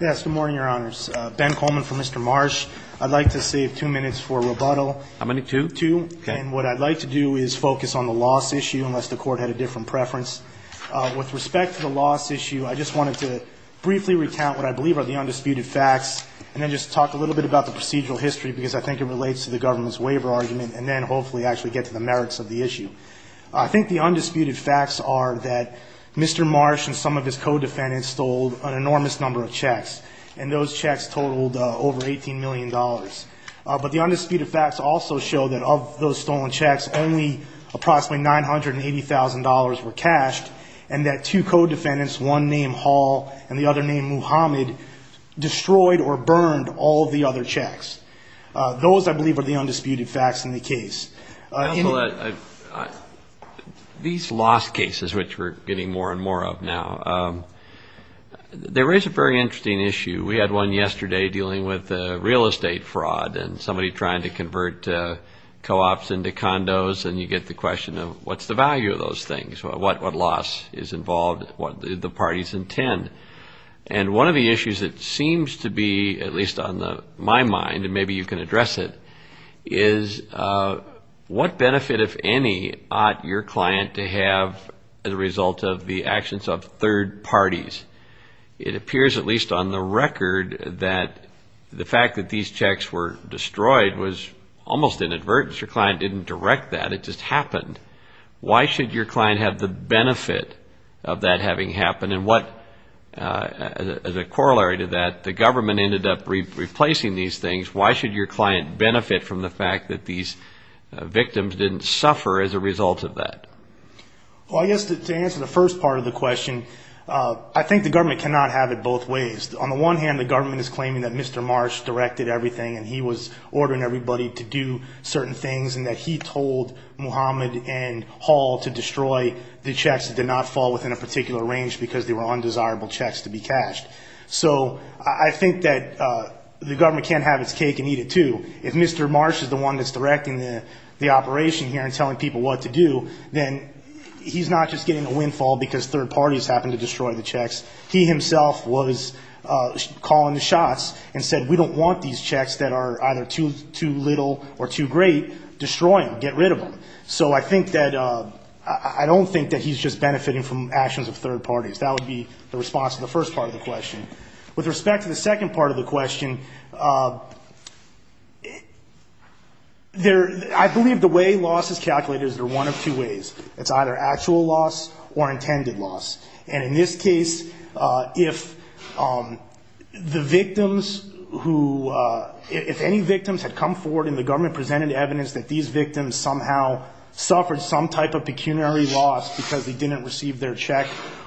Yes. Good morning, Your Honors. Ben Coleman for Mr. Marsh. I'd like to save two minutes for rebuttal. How many? Two? Two. Okay. And what I'd like to do is focus on the loss issue, unless the Court had a different preference. With respect to the loss issue, I just wanted to briefly recount what I believe are the undisputed facts, and then just talk a little bit about the procedural history, because I think it relates to the government's waiver argument, and then hopefully actually get to the merits of the issue. I think the undisputed facts are that Mr. Marsh and some of his co-defendants stole an enormous number of checks, and those checks totaled over $18 million. But the undisputed facts also show that of those stolen checks, only approximately $980,000 were cashed, and that two co-defendants, one named Hall and the other named Muhammad, destroyed or burned all the other checks. Those, I believe, are the undisputed facts in the case. These loss cases, which we're getting more and more of now, there is a very interesting issue. We had one yesterday dealing with real estate fraud and somebody trying to convert co-ops into condos, and you get the question of what's the value of those things? What loss is involved? What did the parties intend? And one of the issues that seems to be, at least on my mind, and maybe you can address it, is what benefit, if any, ought your client to have as a result of the actions of third parties? It appears, at least on the record, that the fact that these checks were destroyed was almost an advertence. Your client didn't direct that, it just happened. Why should your client have the benefit of that having happened? And what, as a corollary to that, the government ended up replacing these things. Why should your client benefit from the fact that these victims didn't suffer as a result of that? Well, I guess to answer the first part of the question, I think the government cannot have it both ways. On the one hand, the government is claiming that Mr. Marsh directed everything and he was ordering everybody to do certain things, and that he told Muhammad and Hall to destroy the checks that did not fall within a particular range because they were undesirable checks to be cashed. So I think that the government can't have its cake and eat it, too. If Mr. Marsh is the one that's directing the operation here and telling people what to do, then he's not just getting a windfall because third parties happened to destroy the checks. He himself was calling the shots and said, we don't want these checks that are either too little or too great, destroy them, get rid of them. So I think that, I don't think that he's just benefiting from actions of third parties. That would be the response to the first part of the question. With respect to the second part of the question, I believe the way loss is calculated is one of two ways. It's either actual loss or intended loss. And in this case, if the victims who, if any victims had come forward and the government presented evidence that these victims somehow suffered some type of pecuniary loss because they didn't receive their check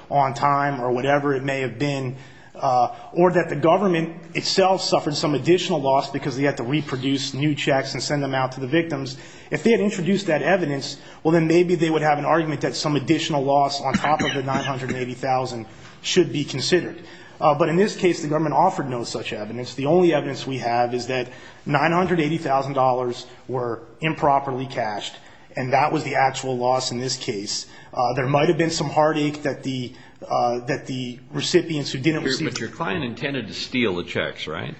on time or whatever it may have been, or that the government itself suffered some additional loss because they had to reproduce new checks and send them out to the victims. If they had introduced that evidence, well, then maybe they would have an argument that some additional loss on top of the $980,000 should be considered. But in this case, the government offered no such evidence. The only evidence we have is that $980,000 were improperly cashed. And that was the actual loss in this case. There might have been some heartache that the recipients who didn't receive. But your client intended to steal the checks, right?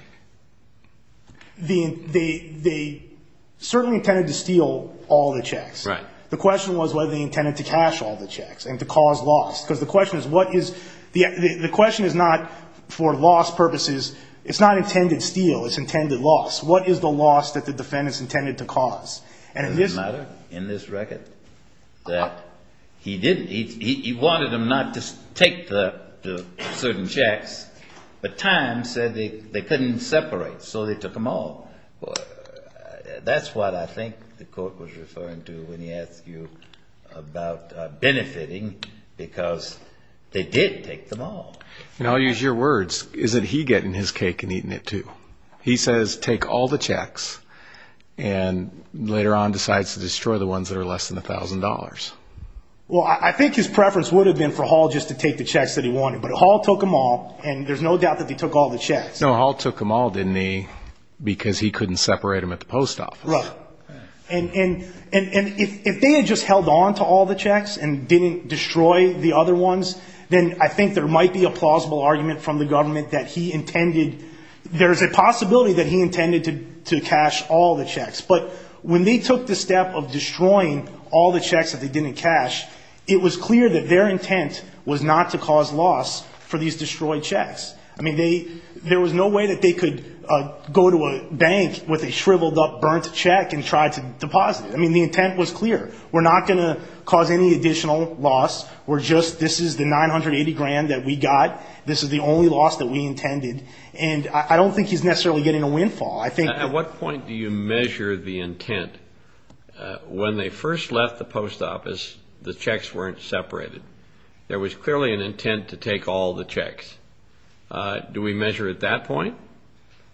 They certainly intended to steal all the checks. Right. The question was whether they intended to cash all the checks and to cause loss. Because the question is what is, the question is not for loss purposes. It's not intended steal. It's intended loss. What is the loss that the defendants intended to cause? And in this record that he didn't, he wanted them not to take the certain checks. But time said they couldn't separate. So they took them all. That's what I think the court was referring to when he asked you about benefiting. Because they did take them all. And I'll use your words. Is it he getting his cake and eating it too? He says take all the checks and later on decides to destroy the ones that are less than $1,000. Well, I think his preference would have been for Hall just to take the checks that he wanted. But Hall took them all and there's no doubt that he took all the checks. No, Hall took them all, didn't he? Because he couldn't separate them at the post office. Right. And if they had just held on to all the checks and didn't destroy the other ones, then I think there might be a plausible argument from the government that he intended, there's a possibility that he intended to cash all the checks. But when they took the step of destroying all the checks that they didn't cash, it was clear that their intent was not to cause loss for these destroyed checks. I mean, there was no way that they could go to a bank with a shriveled up, burnt check and try to deposit it. I mean, the intent was clear. We're not going to cause any additional loss. We're just, this is the $980,000 that we got. This is the only loss that we intended. And I don't think he's necessarily getting a windfall. At what point do you measure the intent? When they first left the post office, the checks weren't separated. There was clearly an intent to take all the checks. Do we measure at that point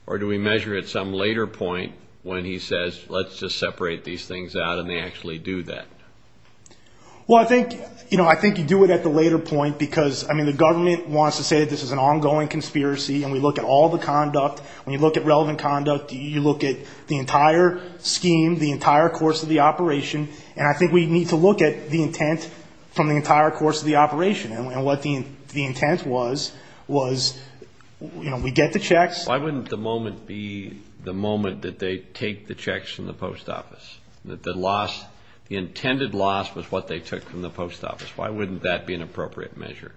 or do we measure at some later point when he says, let's just separate these things out and they actually do that? Well, I think, you know, I think you do it at the later point because, I mean, the government wants to say that this is an ongoing conspiracy and we look at all the conduct. When you look at relevant conduct, you look at the entire scheme, the entire course of the operation. And I think we need to look at the intent from the entire course of the operation. And what the intent was, was, you know, we get the checks. Why wouldn't the moment be the moment that they take the checks from the post office? That the loss, the intended loss was what they took from the post office. Why wouldn't that be an appropriate measure?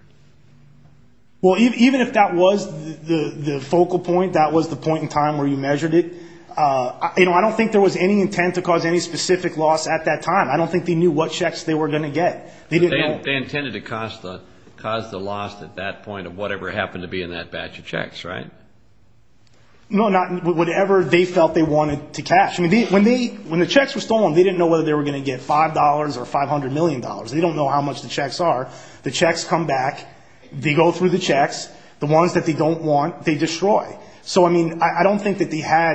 Well, even if that was the focal point, that was the point in time where you measured it, you know, I don't think there was any intent to cause any specific loss at that time. I don't think they knew what checks they were going to get. They intended to cause the loss at that point of whatever happened to be in that batch of checks, right? No, not whatever they felt they wanted to cash. I mean, when the checks were stolen, they didn't know whether they were going to get $5 or $500 million. They don't know how much the checks are. The checks come back. They go through the checks. The ones that they don't want, they destroy. So, I mean, I don't think that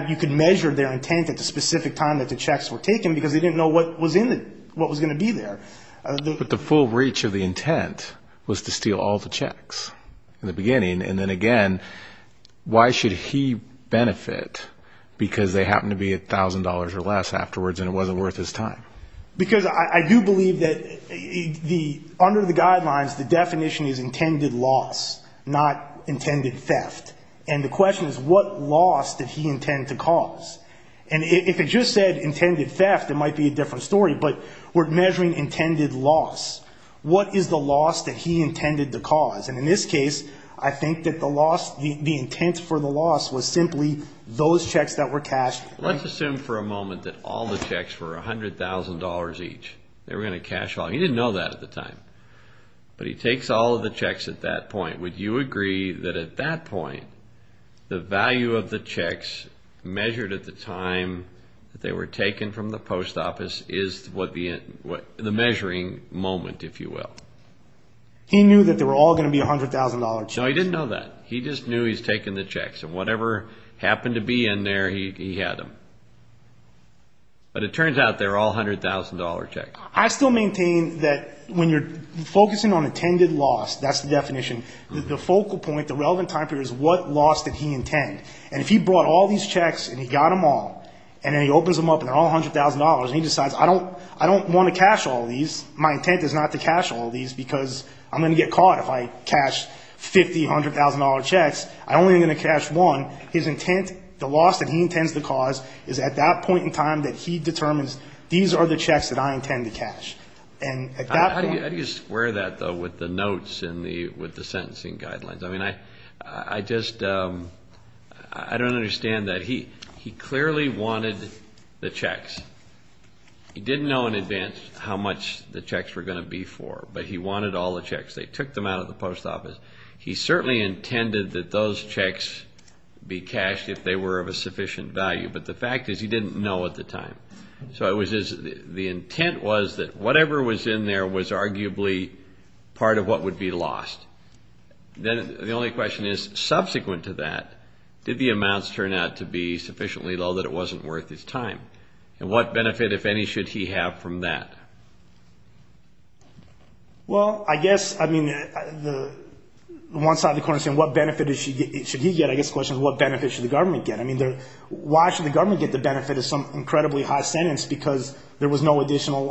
you could measure their intent at the specific time that the checks were taken because they didn't know what was going to be there. But the full reach of the intent was to steal all the checks in the beginning. And then again, why should he benefit because they happened to be $1,000 or less afterwards and it wasn't worth his time? Because I do believe that under the guidelines, the definition is intended loss, not intended theft. And the question is what loss did he intend to cause? And if it just said intended theft, it might be a different story. But we're measuring intended loss. What is the loss that he intended to cause? And in this case, I think that the loss, the intent for the loss was simply those checks that were cashed. Let's assume for a moment that all the checks were $100,000 each. They were going to cash all. He didn't know that at the time. But he takes all of the checks at that point. Would you agree that at that point, the value of the checks measured at the time that they were taken from the post office is the measuring moment, if you will? He knew that they were all going to be $100,000 checks. No, he didn't know that. He just knew he was taking the checks. And whatever happened to be in there, he had them. But it turns out they were all $100,000 checks. I still maintain that when you're focusing on intended loss, that's the definition, the focal point, the relevant time period is what loss did he intend. And if he brought all these checks and he got them all and then he opens them up and they're all $100,000 and he decides I don't want to cash all these, my intent is not to cash all these because I'm going to get caught if I cash $50,000, $100,000 checks. I only am going to cash one. His intent, the loss that he intends to cause is at that point in time that he determines these are the checks that I intend to cash. How do you square that, though, with the notes and with the sentencing guidelines? I mean, I just don't understand that. He clearly wanted the checks. He didn't know in advance how much the checks were going to be for. But he wanted all the checks. They took them out of the post office. He certainly intended that those checks be cashed if they were of a sufficient value. But the fact is he didn't know at the time. So the intent was that whatever was in there was arguably part of what would be lost. Then the only question is, subsequent to that, did the amounts turn out to be sufficiently low that it wasn't worth his time? And what benefit, if any, should he have from that? Well, I guess, I mean, the one side of the coin is saying what benefit should he get. I guess the question is what benefit should the government get. I mean, why should the government get the benefit of some incredibly high sentence if there was no additional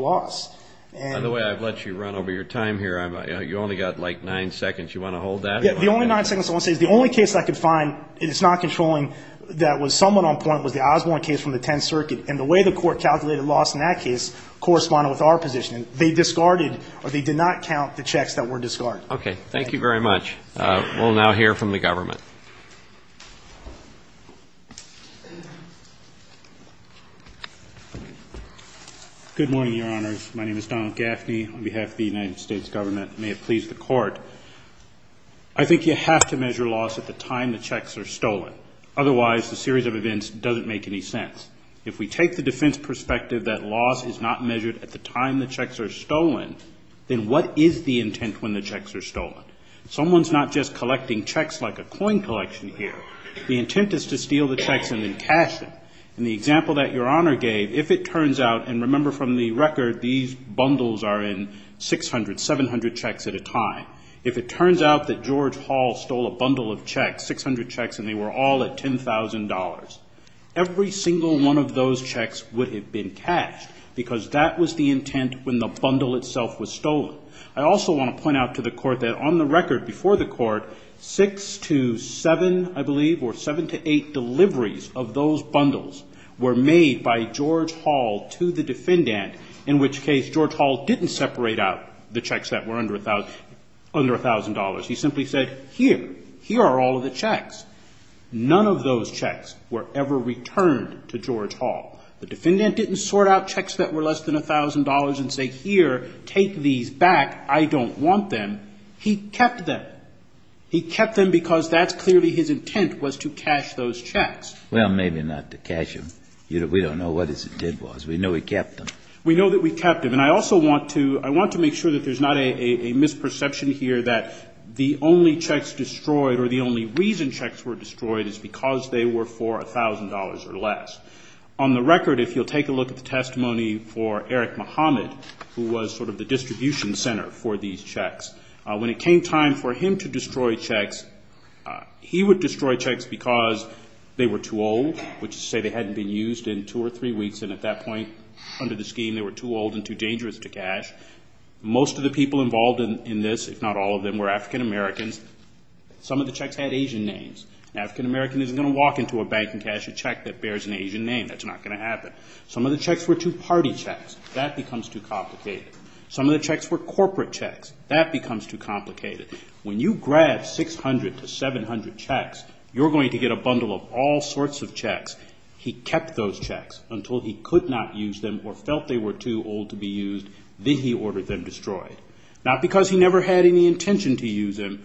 loss? By the way, I've let you run over your time here. You've only got like nine seconds. Do you want to hold that? The only nine seconds I want to say is the only case I could find, and it's not controlling, that was somewhat on point was the Osborne case from the Tenth Circuit. And the way the Court calculated loss in that case corresponded with our position. They discarded or they did not count the checks that were discarded. Okay. Thank you very much. We'll now hear from the government. Good morning, Your Honors. My name is Donald Gaffney. On behalf of the United States Government, may it please the Court. I think you have to measure loss at the time the checks are stolen. Otherwise, the series of events doesn't make any sense. If we take the defense perspective that loss is not measured at the time the checks are stolen, then what is the intent when the checks are stolen? Someone's not just collecting checks like a coin collection here. The intent is to steal the checks and then cash them. In the example that Your Honor gave, if it turns out, and remember from the record, these bundles are in 600, 700 checks at a time. If it turns out that George Hall stole a bundle of checks, 600 checks, and they were all at $10,000, every single one of those checks would have been cashed because that was the intent when the bundle itself was stolen. I also want to point out to the Court that on the record before the Court, six to seven, I believe, or seven to eight deliveries of those bundles were made by George Hall to the defendant, in which case George Hall didn't separate out the checks that were under $1,000. He simply said, here, here are all of the checks. None of those checks were ever returned to George Hall. The defendant didn't sort out checks that were less than $1,000 and say, here, take these back. I don't want them. He kept them. He kept them because that's clearly his intent was to cash those checks. Well, maybe not to cash them. We don't know what his intent was. We know he kept them. We know that we kept them. And I also want to make sure that there's not a misperception here that the only checks destroyed or the only reason checks were destroyed is because they were for $1,000 or less. On the record, if you'll take a look at the testimony for Eric Muhammad, who was sort of the distribution center for these checks, when it came time for him to destroy checks, he would destroy checks because they were too old, which is to say they hadn't been used in two or three weeks, and at that point under the scheme they were too old and too dangerous to cash. Most of the people involved in this, if not all of them, were African-Americans. Some of the checks had Asian names. An African-American isn't going to walk into a bank and cash a check that bears an Asian name. That's not going to happen. Some of the checks were two-party checks. That becomes too complicated. Some of the checks were corporate checks. That becomes too complicated. When you grab 600 to 700 checks, you're going to get a bundle of all sorts of checks. He kept those checks until he could not use them or felt they were too old to be used. Then he ordered them destroyed. Not because he never had any intention to use them.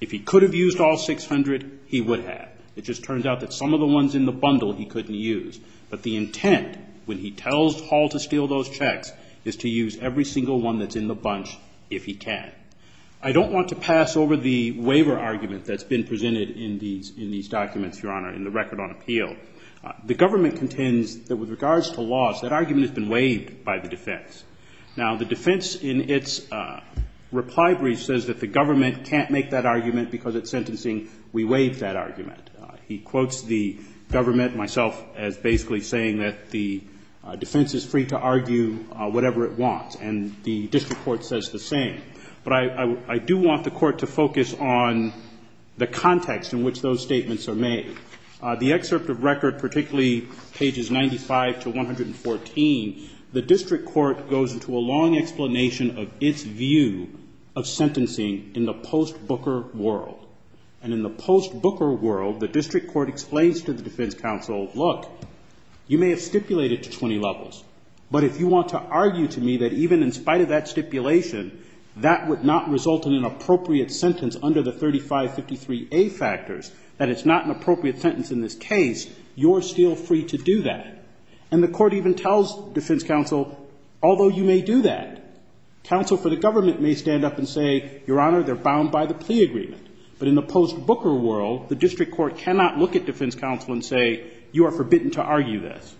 If he could have used all 600, he would have. It just turns out that some of the ones in the bundle he couldn't use. But the intent, when he tells Hall to steal those checks, is to use every single one that's in the bunch if he can. I don't want to pass over the waiver argument that's been presented in these documents, Your Honor, in the record on appeal. The government contends that with regards to laws, that argument has been waived by the defense. Now, the defense in its reply brief says that the government can't make that argument because it's sentencing. We waived that argument. He quotes the government, myself, as basically saying that the defense is free to argue whatever it wants. And the district court says the same. But I do want the court to focus on the context in which those statements are made. The excerpt of record, particularly pages 95 to 114, the district court goes into a long explanation of its view of sentencing in the post-Booker world. And in the post-Booker world, the district court explains to the defense counsel, look, you may have stipulated to 20 levels. But if you want to argue to me that even in spite of that stipulation, that would not result in an appropriate sentence under the 3553A factors, that it's not an appropriate sentence in this case, you're still free to do that. And the court even tells defense counsel, although you may do that, counsel for the government may stand up and say, Your Honor, they're bound by the plea agreement. But in the post-Booker world, the district court cannot look at defense counsel and say, you are forbidden to argue this.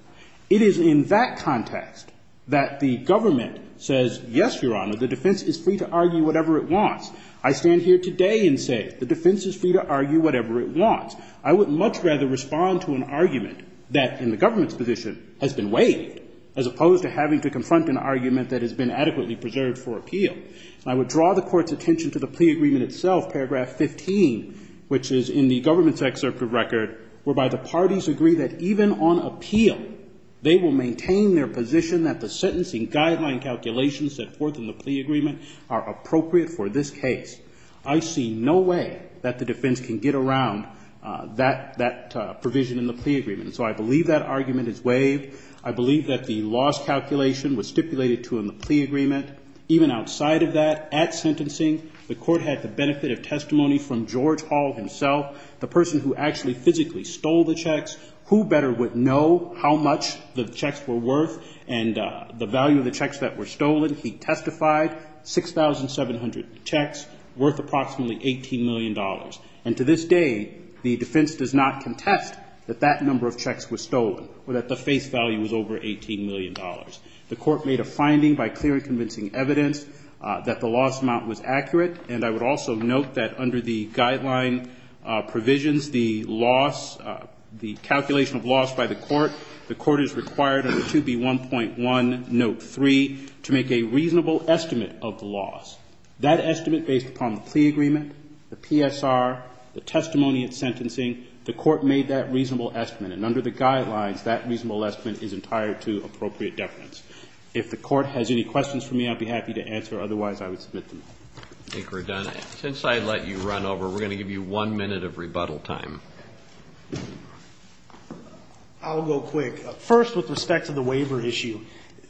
It is in that context that the government says, yes, Your Honor, the defense is free to argue whatever it wants. I stand here today and say the defense is free to argue whatever it wants. I would much rather respond to an argument that in the government's position has been waived, as opposed to having to confront an argument that has been adequately preserved for appeal. So I would draw the Court's attention to the plea agreement itself, paragraph 15, which is in the government's excerpt of record, whereby the parties agree that even on appeal, they will maintain their position that the sentencing guideline calculations set forth in the plea agreement are appropriate for this case. I see no way that the defense can get around that provision in the plea agreement. So I believe that argument is waived. I believe that the loss calculation was stipulated to in the plea agreement. Even outside of that, at sentencing, the Court had the benefit of testimony from George Hall himself, the person who actually physically stole the checks. Who better would know how much the checks were worth and the value of the checks that were stolen? He testified, 6,700 checks worth approximately $18 million. And to this day, the defense does not contest that that number of checks was stolen, or that the face value was over $18 million. The Court made a finding by clear and convincing evidence that the loss amount was accurate. And I would also note that under the guideline provisions, the loss, the calculation of loss by the Court, the Court is required under 2B1.1, note 3, to make a reasonable estimate of the loss. That estimate, based upon the plea agreement, the PSR, the testimony at sentencing, the Court made that reasonable estimate. And under the guidelines, that reasonable estimate is entire to appropriate deference. If the Court has any questions for me, I'd be happy to answer. Otherwise, I would submit them. Thank you, Your Honor. Since I let you run over, we're going to give you one minute of rebuttal time. I'll go quick. First, with respect to the waiver issue,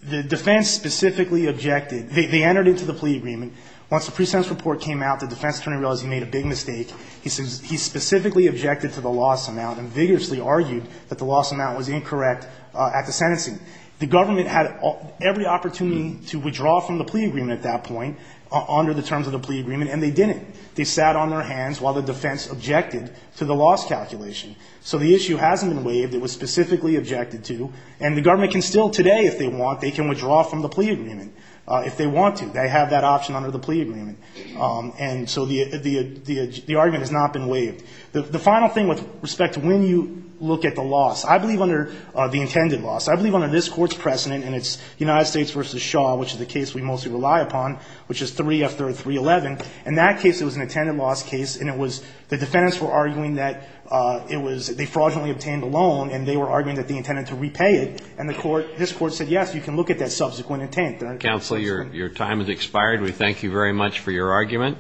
the defense specifically objected. They entered into the plea agreement. Once the pre-sentence report came out, the defense attorney realized he made a big mistake. He specifically objected to the loss amount and vigorously argued that the loss amount was incorrect at the sentencing. The government had every opportunity to withdraw from the plea agreement at that point under the terms of the plea agreement, and they didn't. They sat on their hands while the defense objected to the loss calculation. So the issue hasn't been waived. It was specifically objected to. And the government can still today, if they want, they can withdraw from the plea agreement if they want to. They have that option under the plea agreement. And so the argument has not been waived. The final thing with respect to when you look at the loss, I believe under the intended loss, I believe under this Court's precedent, and it's United States v. Shaw, which is the case we mostly rely upon, which is 3 after 311, in that case it was an intended loss case, and it was the defendants were arguing that they fraudulently obtained a loan, and they were arguing that they intended to repay it. And this Court said, yes, you can look at that subsequent intent. Counsel, your time has expired. We thank you very much for your argument.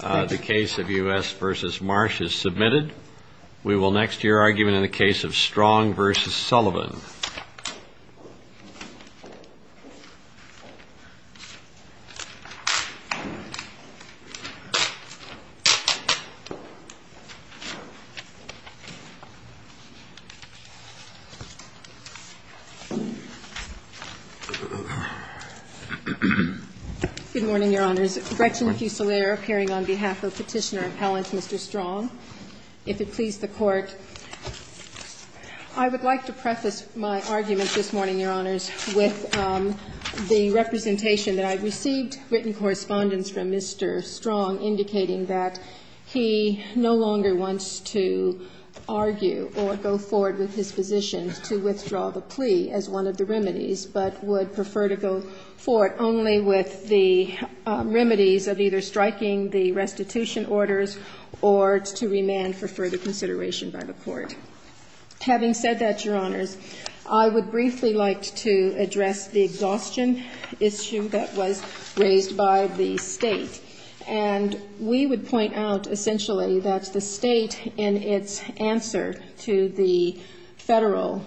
The case of U.S. v. Marsh is submitted. We will next hear argument in the case of Strong v. Sullivan. Good morning, Your Honors. Gretchen Fusilier appearing on behalf of Petitioner Appellant Mr. Strong. If it please the Court, I would like to preface my argument this morning, Your Honors, with the representation that I received, written correspondence from Mr. Strong, indicating that he no longer wants to argue or go forward with his position to withdraw the plea as one of the remedies, but would prefer to go forward only with the remedies of either striking the restitution orders or to remand for further consideration by the Court. Having said that, Your Honors, I would briefly like to address the exhaustion issue that was raised by the State. And we would point out, essentially, that the State, in its answer to the Federal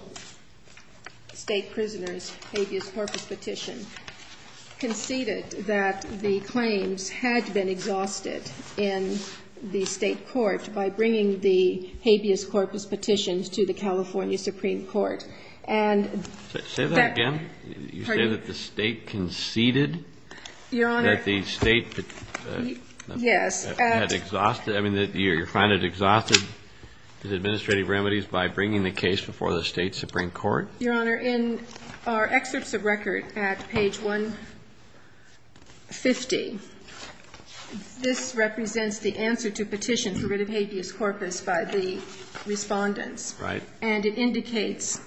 State prisoner's habeas corpus petition, conceded that the claims had been exhausted in the State court by bringing the habeas corpus petitions to the California Supreme Court. And that the State conceded that the State had exhausted, I mean, you find it exhausted by bringing the case before the State Supreme Court? Your Honor, in our excerpts of record at page 150, this represents the answer to petition for rid of habeas corpus by the Respondents. Right. And it indicates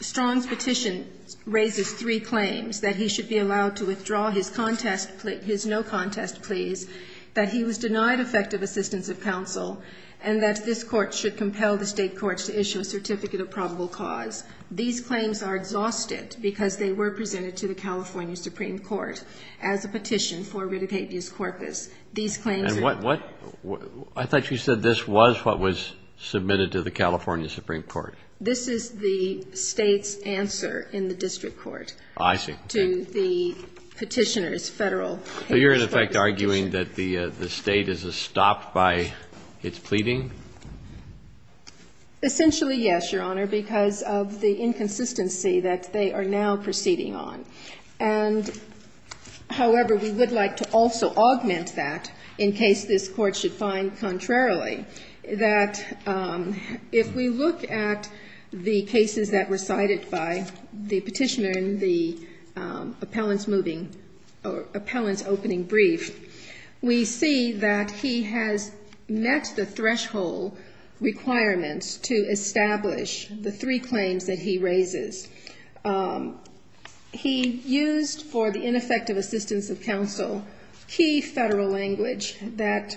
Strong's petition raises three claims, that he should be allowed to withdraw his contest plea, his no contest pleas, that he was denied effective assistance of counsel, and that this Court should compel the State courts to issue a certificate of probable cause. These claims are exhausted because they were presented to the California Supreme Court as a petition for rid of habeas corpus. These claims are exhausted. And what, I thought you said this was what was submitted to the California Supreme Court. This is the State's answer in the district court. I see. To the petitioner's Federal habeas corpus petition. So you're, in effect, arguing that the State is stopped by its pleading? Essentially, yes, Your Honor, because of the inconsistency that they are now proceeding on. And, however, we would like to also augment that in case this Court should find, contrarily, that if we look at the cases that were cited by the petitioner in the appellant's opening brief, we see that he has met the threshold requirements to establish the three claims that he raises. He used for the ineffective assistance of counsel key Federal language that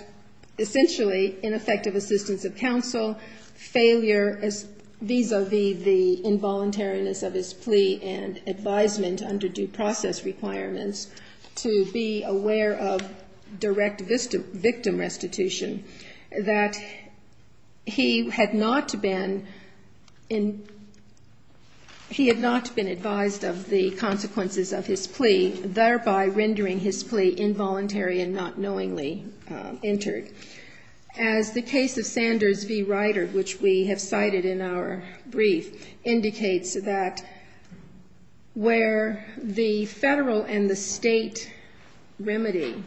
essentially ineffective assistance of counsel, failure vis-a-vis the involuntariness of his plea and advisement under due process requirements to be aware of direct victim restitution, that he had not been advised of the consequences of his plea, thereby rendering his plea involuntary and not knowingly entered. As the case of Sanders v. Ryder, which we have cited in our brief, indicates that where the Federal and the State remedy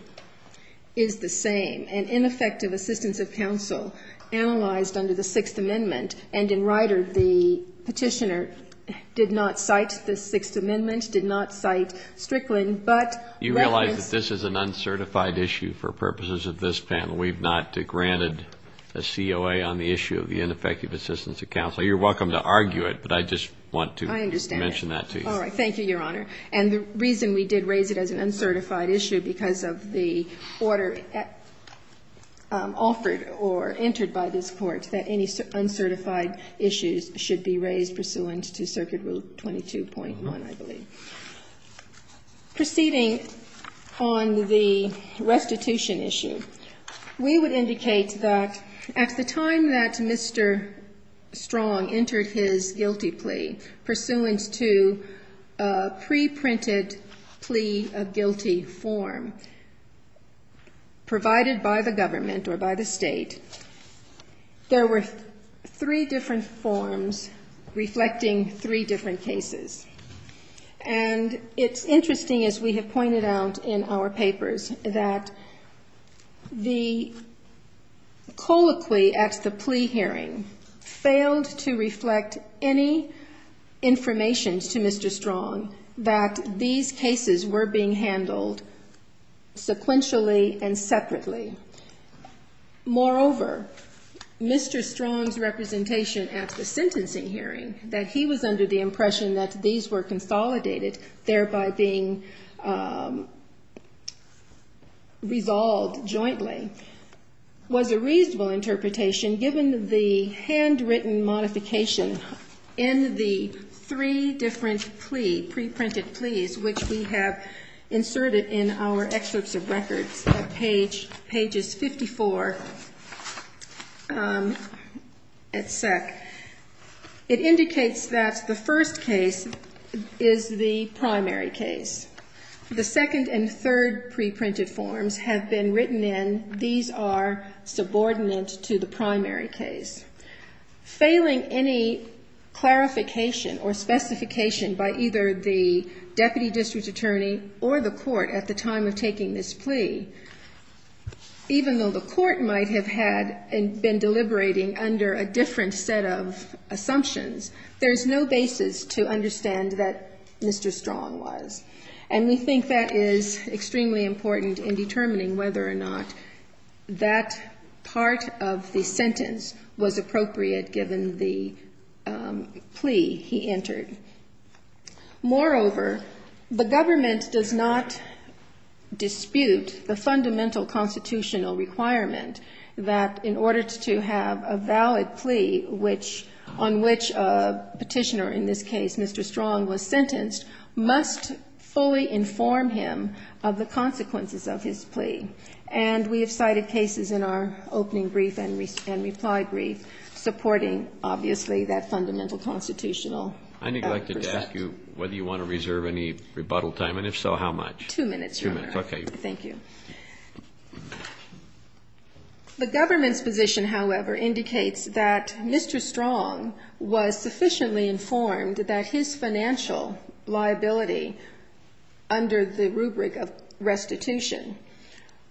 is the same, an ineffective assistance of counsel analyzed under the Sixth Amendment, and in Ryder, the petitioner did not cite the Sixth Amendment, did not cite Strickland, but referenced the ineffective assistance of counsel. You realize that this is an uncertified issue for purposes of this panel. We have not granted a COA on the issue of the ineffective assistance of counsel. You're welcome to argue it, but I just want to mention that to you. I understand. All right. Thank you, Your Honor. And the reason we did raise it as an uncertified issue because of the order offered or entered by this Court that any uncertified issues should be raised pursuant to Circuit Rule 22.1, I believe. Proceeding on the restitution issue, we would indicate that at the time that Mr. Strong entered his guilty plea pursuant to a preprinted plea of guilty form provided by the government or by the State, there were three different forms reflecting three different cases. And it's interesting, as we have pointed out in our papers, that the colloquy at the plea hearing failed to reflect any information to Mr. Strong that these cases were being handled sequentially and separately. Moreover, Mr. Strong's representation at the sentencing hearing, that he was under the impression that these were consolidated, thereby being resolved jointly, was a reasonable interpretation given the handwritten modification in the three different plea, preprinted pleas, which we have inserted in our excerpts of records at page 54 at SEC. It indicates that the first case is the primary case. The second and third preprinted forms have been written in. These are subordinate to the primary case. Failing any clarification or specification by either the deputy district attorney or the court at the time of taking this plea, even though the court might have had been deliberating under a different set of assumptions, there is no basis to understand that Mr. Strong was. And we think that is extremely important in determining whether or not that part of the sentence was appropriate given the plea he entered. Moreover, the government does not dispute the fundamental constitutional requirement that in order to have a valid plea on which a petitioner, in this case Mr. Strong, was sentenced, must fully inform him of the consequences of his plea. And we have cited cases in our opening brief and reply brief supporting, obviously, that fundamental constitutional precept. I neglected to ask you whether you want to reserve any rebuttal time, and if so, how much? Two minutes, Your Honor. Two minutes. Okay. Thank you. The government's position, however, indicates that Mr. Strong was sufficiently informed that his plea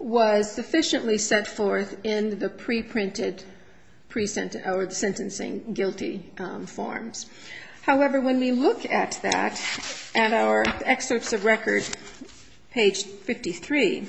was sufficiently set forth in the preprinted or the sentencing guilty forms. However, when we look at that at our excerpts of record, page 53,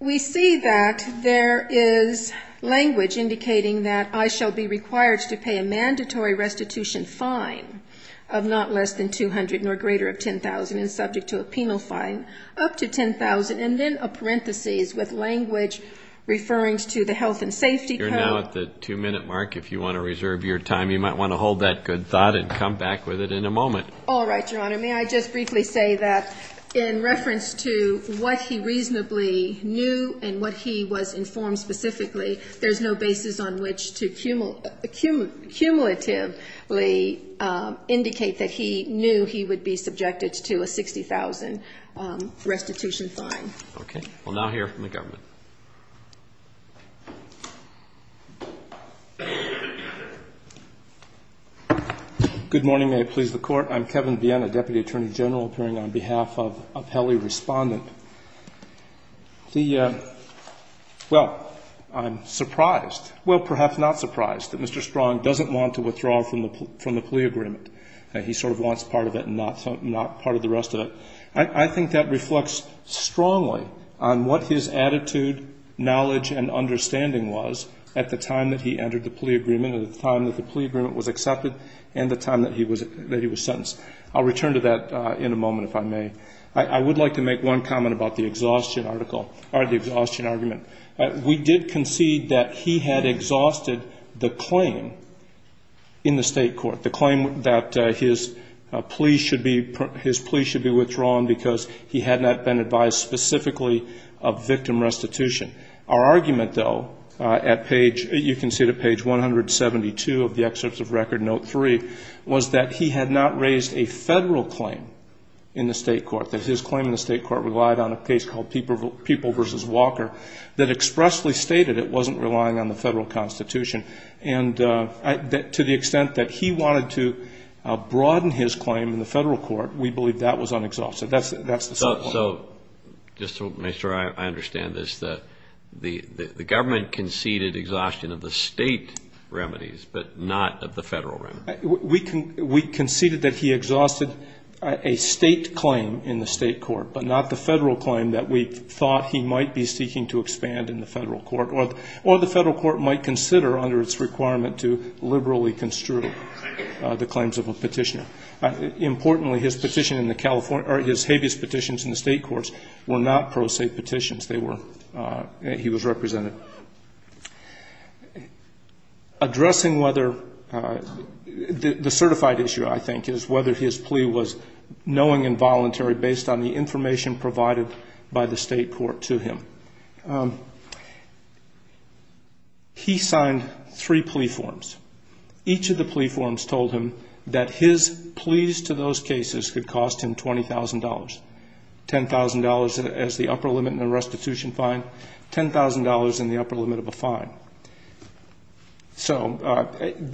we see that there is language indicating that I shall be required to pay a mandatory restitution fine of not less than 200 nor greater of 10,000 and subject to a penal fine up to 10,000 and then a parenthesis with language referring to the health and safety code. You're now at the two-minute mark. If you want to reserve your time, you might want to hold that good thought and come back with it in a moment. All right, Your Honor. May I just briefly say that in reference to what he reasonably knew and what he was informed specifically, there's no basis on which to cumulatively indicate that he knew he would be subjected to a 60,000 restitution fine. Okay. We'll now hear from the government. Good morning. May it please the Court? I'm Kevin Biena, Deputy Attorney General, appearing on behalf of Appelli Respondent. Well, I'm surprised, well, perhaps not surprised, that Mr. Strong doesn't want to withdraw from the plea agreement. He sort of wants part of it and not part of the rest of it. I think that reflects strongly on what his attitude, knowledge, and understanding was at the time that he entered the plea agreement, at the time that the plea agreement was accepted, and the time that he was sentenced. I'll return to that in a moment, if I may. I would like to make one comment about the exhaustion argument. We did concede that he had exhausted the claim in the state court, the claim that his plea should be withdrawn because he had not been advised specifically of victim restitution. Our argument, though, at page, you can see it at page 172 of the excerpts of Record Note 3, was that he had not raised a federal claim in the state court, that his claim in the state court relied on a case called People v. Walker that expressly stated it wasn't relying on the federal court. We believe that was unexhausted. That's the second point. So just to make sure I understand this, the government conceded exhaustion of the state remedies, but not of the federal remedies? We conceded that he exhausted a state claim in the state court, but not the federal claim that we thought he might be seeking to expand in the federal court, or the federal court might consider under its requirement to liberally construe. The claims of a petitioner. Importantly, his habeas petitions in the state courts were not pro se petitions. He was represented. Addressing whether the certified issue, I think, is whether his plea was knowing and voluntary based on the information provided by the state court to him. He signed three plea forms. Each of the plea forms told him that his pleas to those cases could cost him $20,000. $10,000 as the upper limit in a restitution fine, $10,000 in the upper limit of a fine. So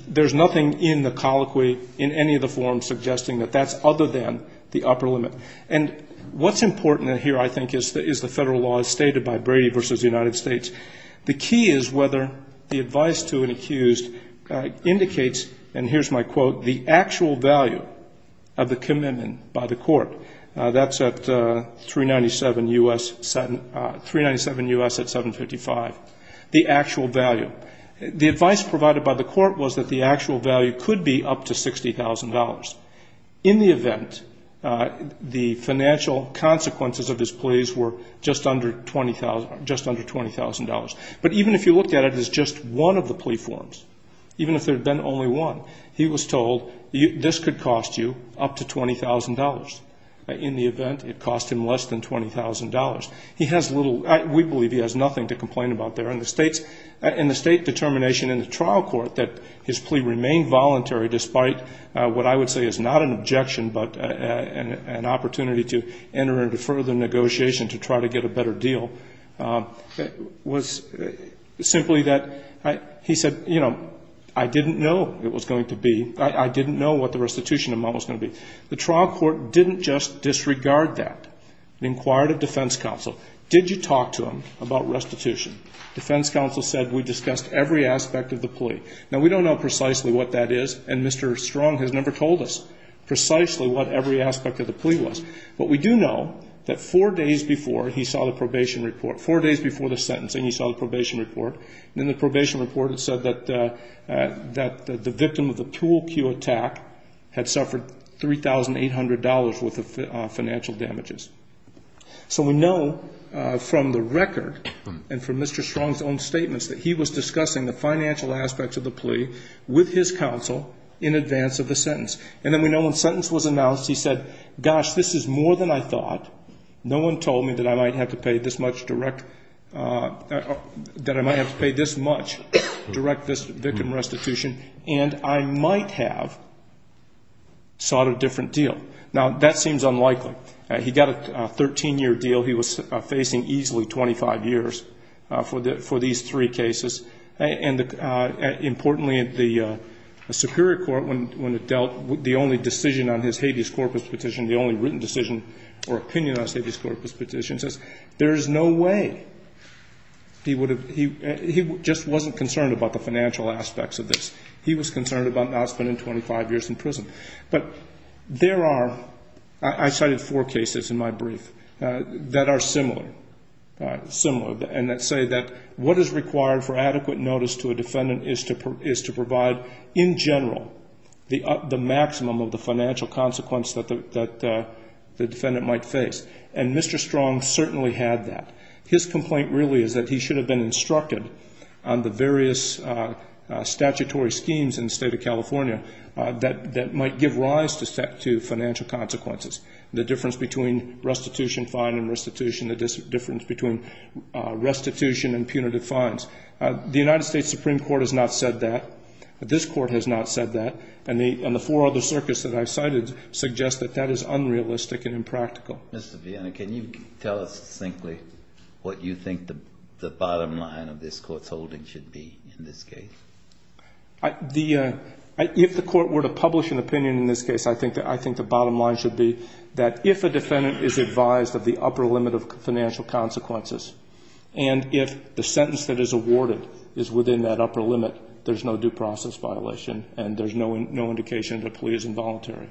there's nothing in the colloquy, in any of the forms, suggesting that that's other than the upper limit. And what's important here, I think, is the federal law as stated by Brady v. United States. The key is whether the advice to an accused indicates, and here's my quote, the actual value of the commitment by the court. That's at 397 U.S. at 755. The actual value. The advice provided by the court is that the financial consequences of his pleas were just under $20,000. But even if you looked at it as just one of the plea forms, even if there had been only one, he was told this could cost you up to $20,000. In the event, it cost him less than $20,000. We believe he has nothing to complain about there. In the state determination in the trial court that his plea remained voluntary despite what I would say is not an objection but an opportunity to enter into further negotiation to try to get a better deal, was simply that he said, you know, I didn't know it was going to be. I didn't know what the restitution amount was going to be. The trial court didn't just disregard that. They inquired of defense counsel. Did you talk to him about restitution? Defense counsel said we discussed every aspect of the plea. Now, we don't know precisely what that is. And Mr. Strong has never told us precisely what every aspect of the plea was. But we do know that four days before he saw the probation report, four days before the sentencing, he saw the probation report. And in the probation report, it said that the victim of the tool cue attack had suffered $3,800 worth of financial damages. So we know from the record and from Mr. Strong's own statements that he was seeking counsel in advance of the sentence. And then we know when sentence was announced, he said, gosh, this is more than I thought. No one told me that I might have to pay this much direct, that I might have to pay this much direct this victim restitution. And I might have sought a different deal. Now, that seems unlikely. He got a 13-year deal he was facing easily 25 years for these three cases. And importantly, the Superior Court, when it dealt the only decision on his habeas corpus petition, the only written decision or opinion on his habeas corpus petition, says there is no way he would have he just wasn't concerned about the financial aspects of this. He was concerned about not spending 25 years in prison. But there are, I cited four cases in my brief that are similar, similar, and that say that what is required for adequate notice to a defendant is to provide, in general, the maximum of the financial consequence that the defendant might face. And Mr. Strong certainly had that. His complaint really is that he should have been instructed on the various statutory schemes in the state of California that might give rise to financial consequences. The difference between restitution, fine and restitution, the difference between restitution and punitive fines. The United States Supreme Court has not said that. This Court has not said that. And the four other circuits that I cited suggest that that is unrealistic and impractical. Mr. Viena, can you tell us succinctly what you think the bottom line of this Court's holding should be in this case? If the Court were to publish an opinion in this case, I think the bottom line should be that if a defendant is advised of the upper limit of financial consequences, and if the sentence that is awarded is within that upper limit, there's no due process violation, and there's no indication that the plea is involuntary.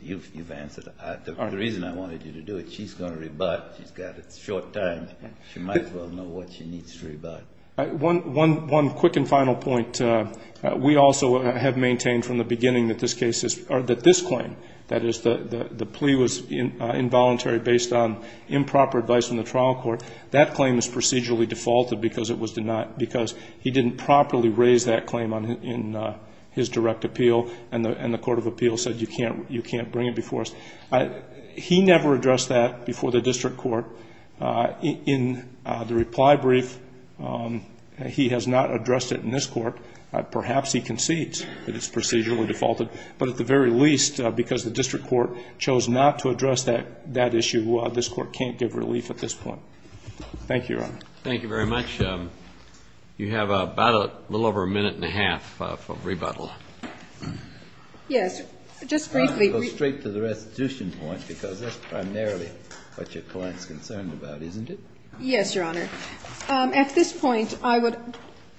You've answered. The reason I wanted you to do it, she's going to rebut. She's got a short time. She might as well know what she needs to rebut. I think it's important that this claim, that the plea was involuntary based on improper advice from the trial court, that claim is procedurally defaulted because he didn't properly raise that claim in his direct appeal, and the court of appeal said you can't bring it before us. He never addressed that before the district court. In the reply brief, he has not addressed it in this court. Perhaps he concedes that it's not a matter of the district court, but at least because the district court chose not to address that issue, this court can't give relief at this point. Thank you, Your Honor. Thank you very much. You have about a little over a minute and a half for rebuttal. Yes, just briefly. I'm going to go straight to the restitution point because that's primarily what your client is concerned about, isn't it? Yes, Your Honor. At this point, I would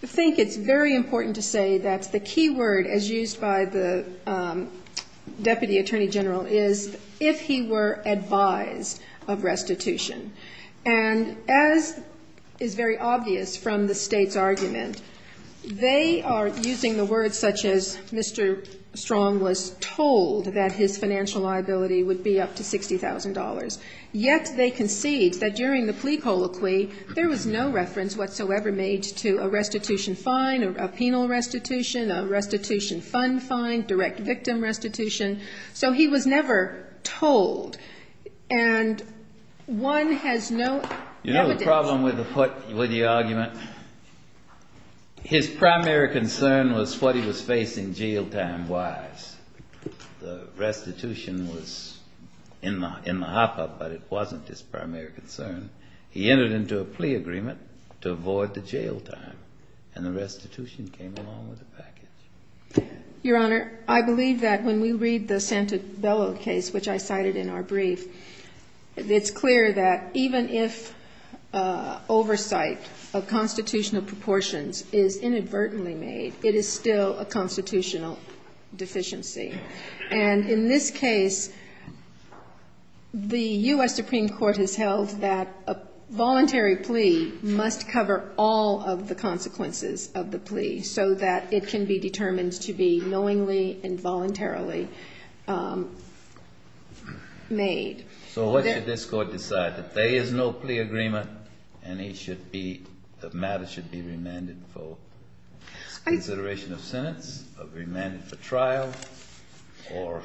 think it's very important to say that the key word, as used by the Deputy Attorney General, is if he were advised of restitution. And as is very obvious from the State's argument, they are using the words such as Mr. Strong was told that his financial liability would be up to $60,000. Yet, they concede that during the plea colloquy, there was no reference whatsoever made to a restitution fine, a penal restitution, a restitution fund fine, direct victim restitution. So he was never told. And one has no evidence. You know the problem with the argument? His primary concern was what he was facing jail time-wise. The restitution fine was in the hop-up, but it wasn't his primary concern. He entered into a plea agreement to avoid the jail time, and the restitution came along with the package. Your Honor, I believe that when we read the Santabello case, which I cited in our brief, it's clear that even if oversight of constitutional proportions is inadvertently made, it is still a constitutional deficiency. And I think it's very important that we understand that and in this case, the U.S. Supreme Court has held that a voluntary plea must cover all of the consequences of the plea, so that it can be determined to be knowingly and voluntarily made. So what should this Court decide? That there is no plea agreement, and the matter should be remanded for consideration of trial, or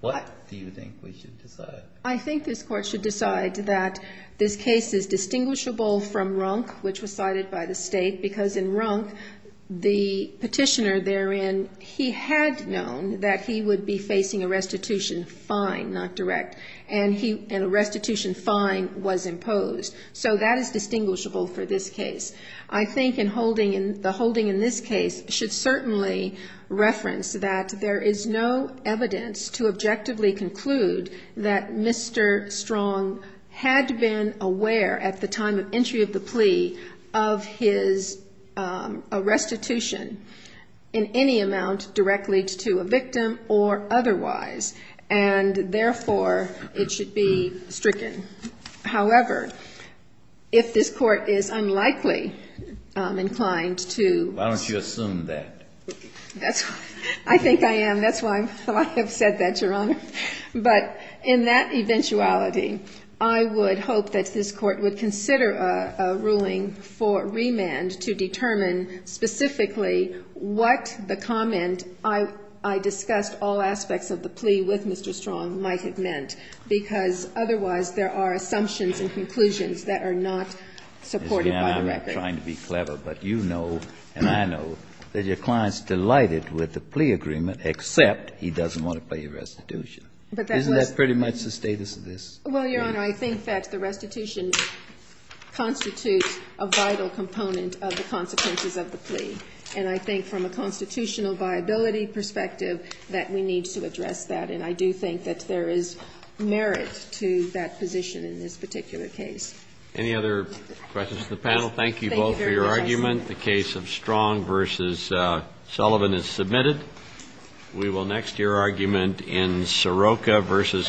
what do you think we should decide? I think this Court should decide that this case is distinguishable from Runk, which was cited by the State, because in Runk, the petitioner therein, he had known that he would be facing a restitution fine, not direct, and a restitution fine was imposed. So that is distinguishable for this case. I think the holding in this case should certainly reference that there is a no evidence to objectively conclude that Mr. Strong had been aware at the time of entry of the plea of his restitution in any amount directly to a victim or otherwise, and therefore, it should be stricken. However, if this Court is unlikely inclined to ---- Why don't you assume that? I think I am. That's why I have said that, Your Honor. But in that eventuality, I would hope that this Court would consider a ruling for remand to determine specifically what the comment, I discussed all aspects of the plea with Mr. Strong, might have meant, because otherwise, there are assumptions and conclusions that are not supported by the record. I'm not trying to be clever, but you know, and I know, that your client is delighted with the plea agreement, except he doesn't want to pay a restitution. Isn't that pretty much the status of this? Well, Your Honor, I think that the restitution constitutes a vital component of the consequences of the plea. And I think from a constitutional viability perspective, that we need to address that. And I do think that there is merit to that position in this particular case. Any other questions to the panel? Thank you both for your argument. The case of Strong v. Sullivan is submitted. We will next hear argument in Sirocco v. Garcia.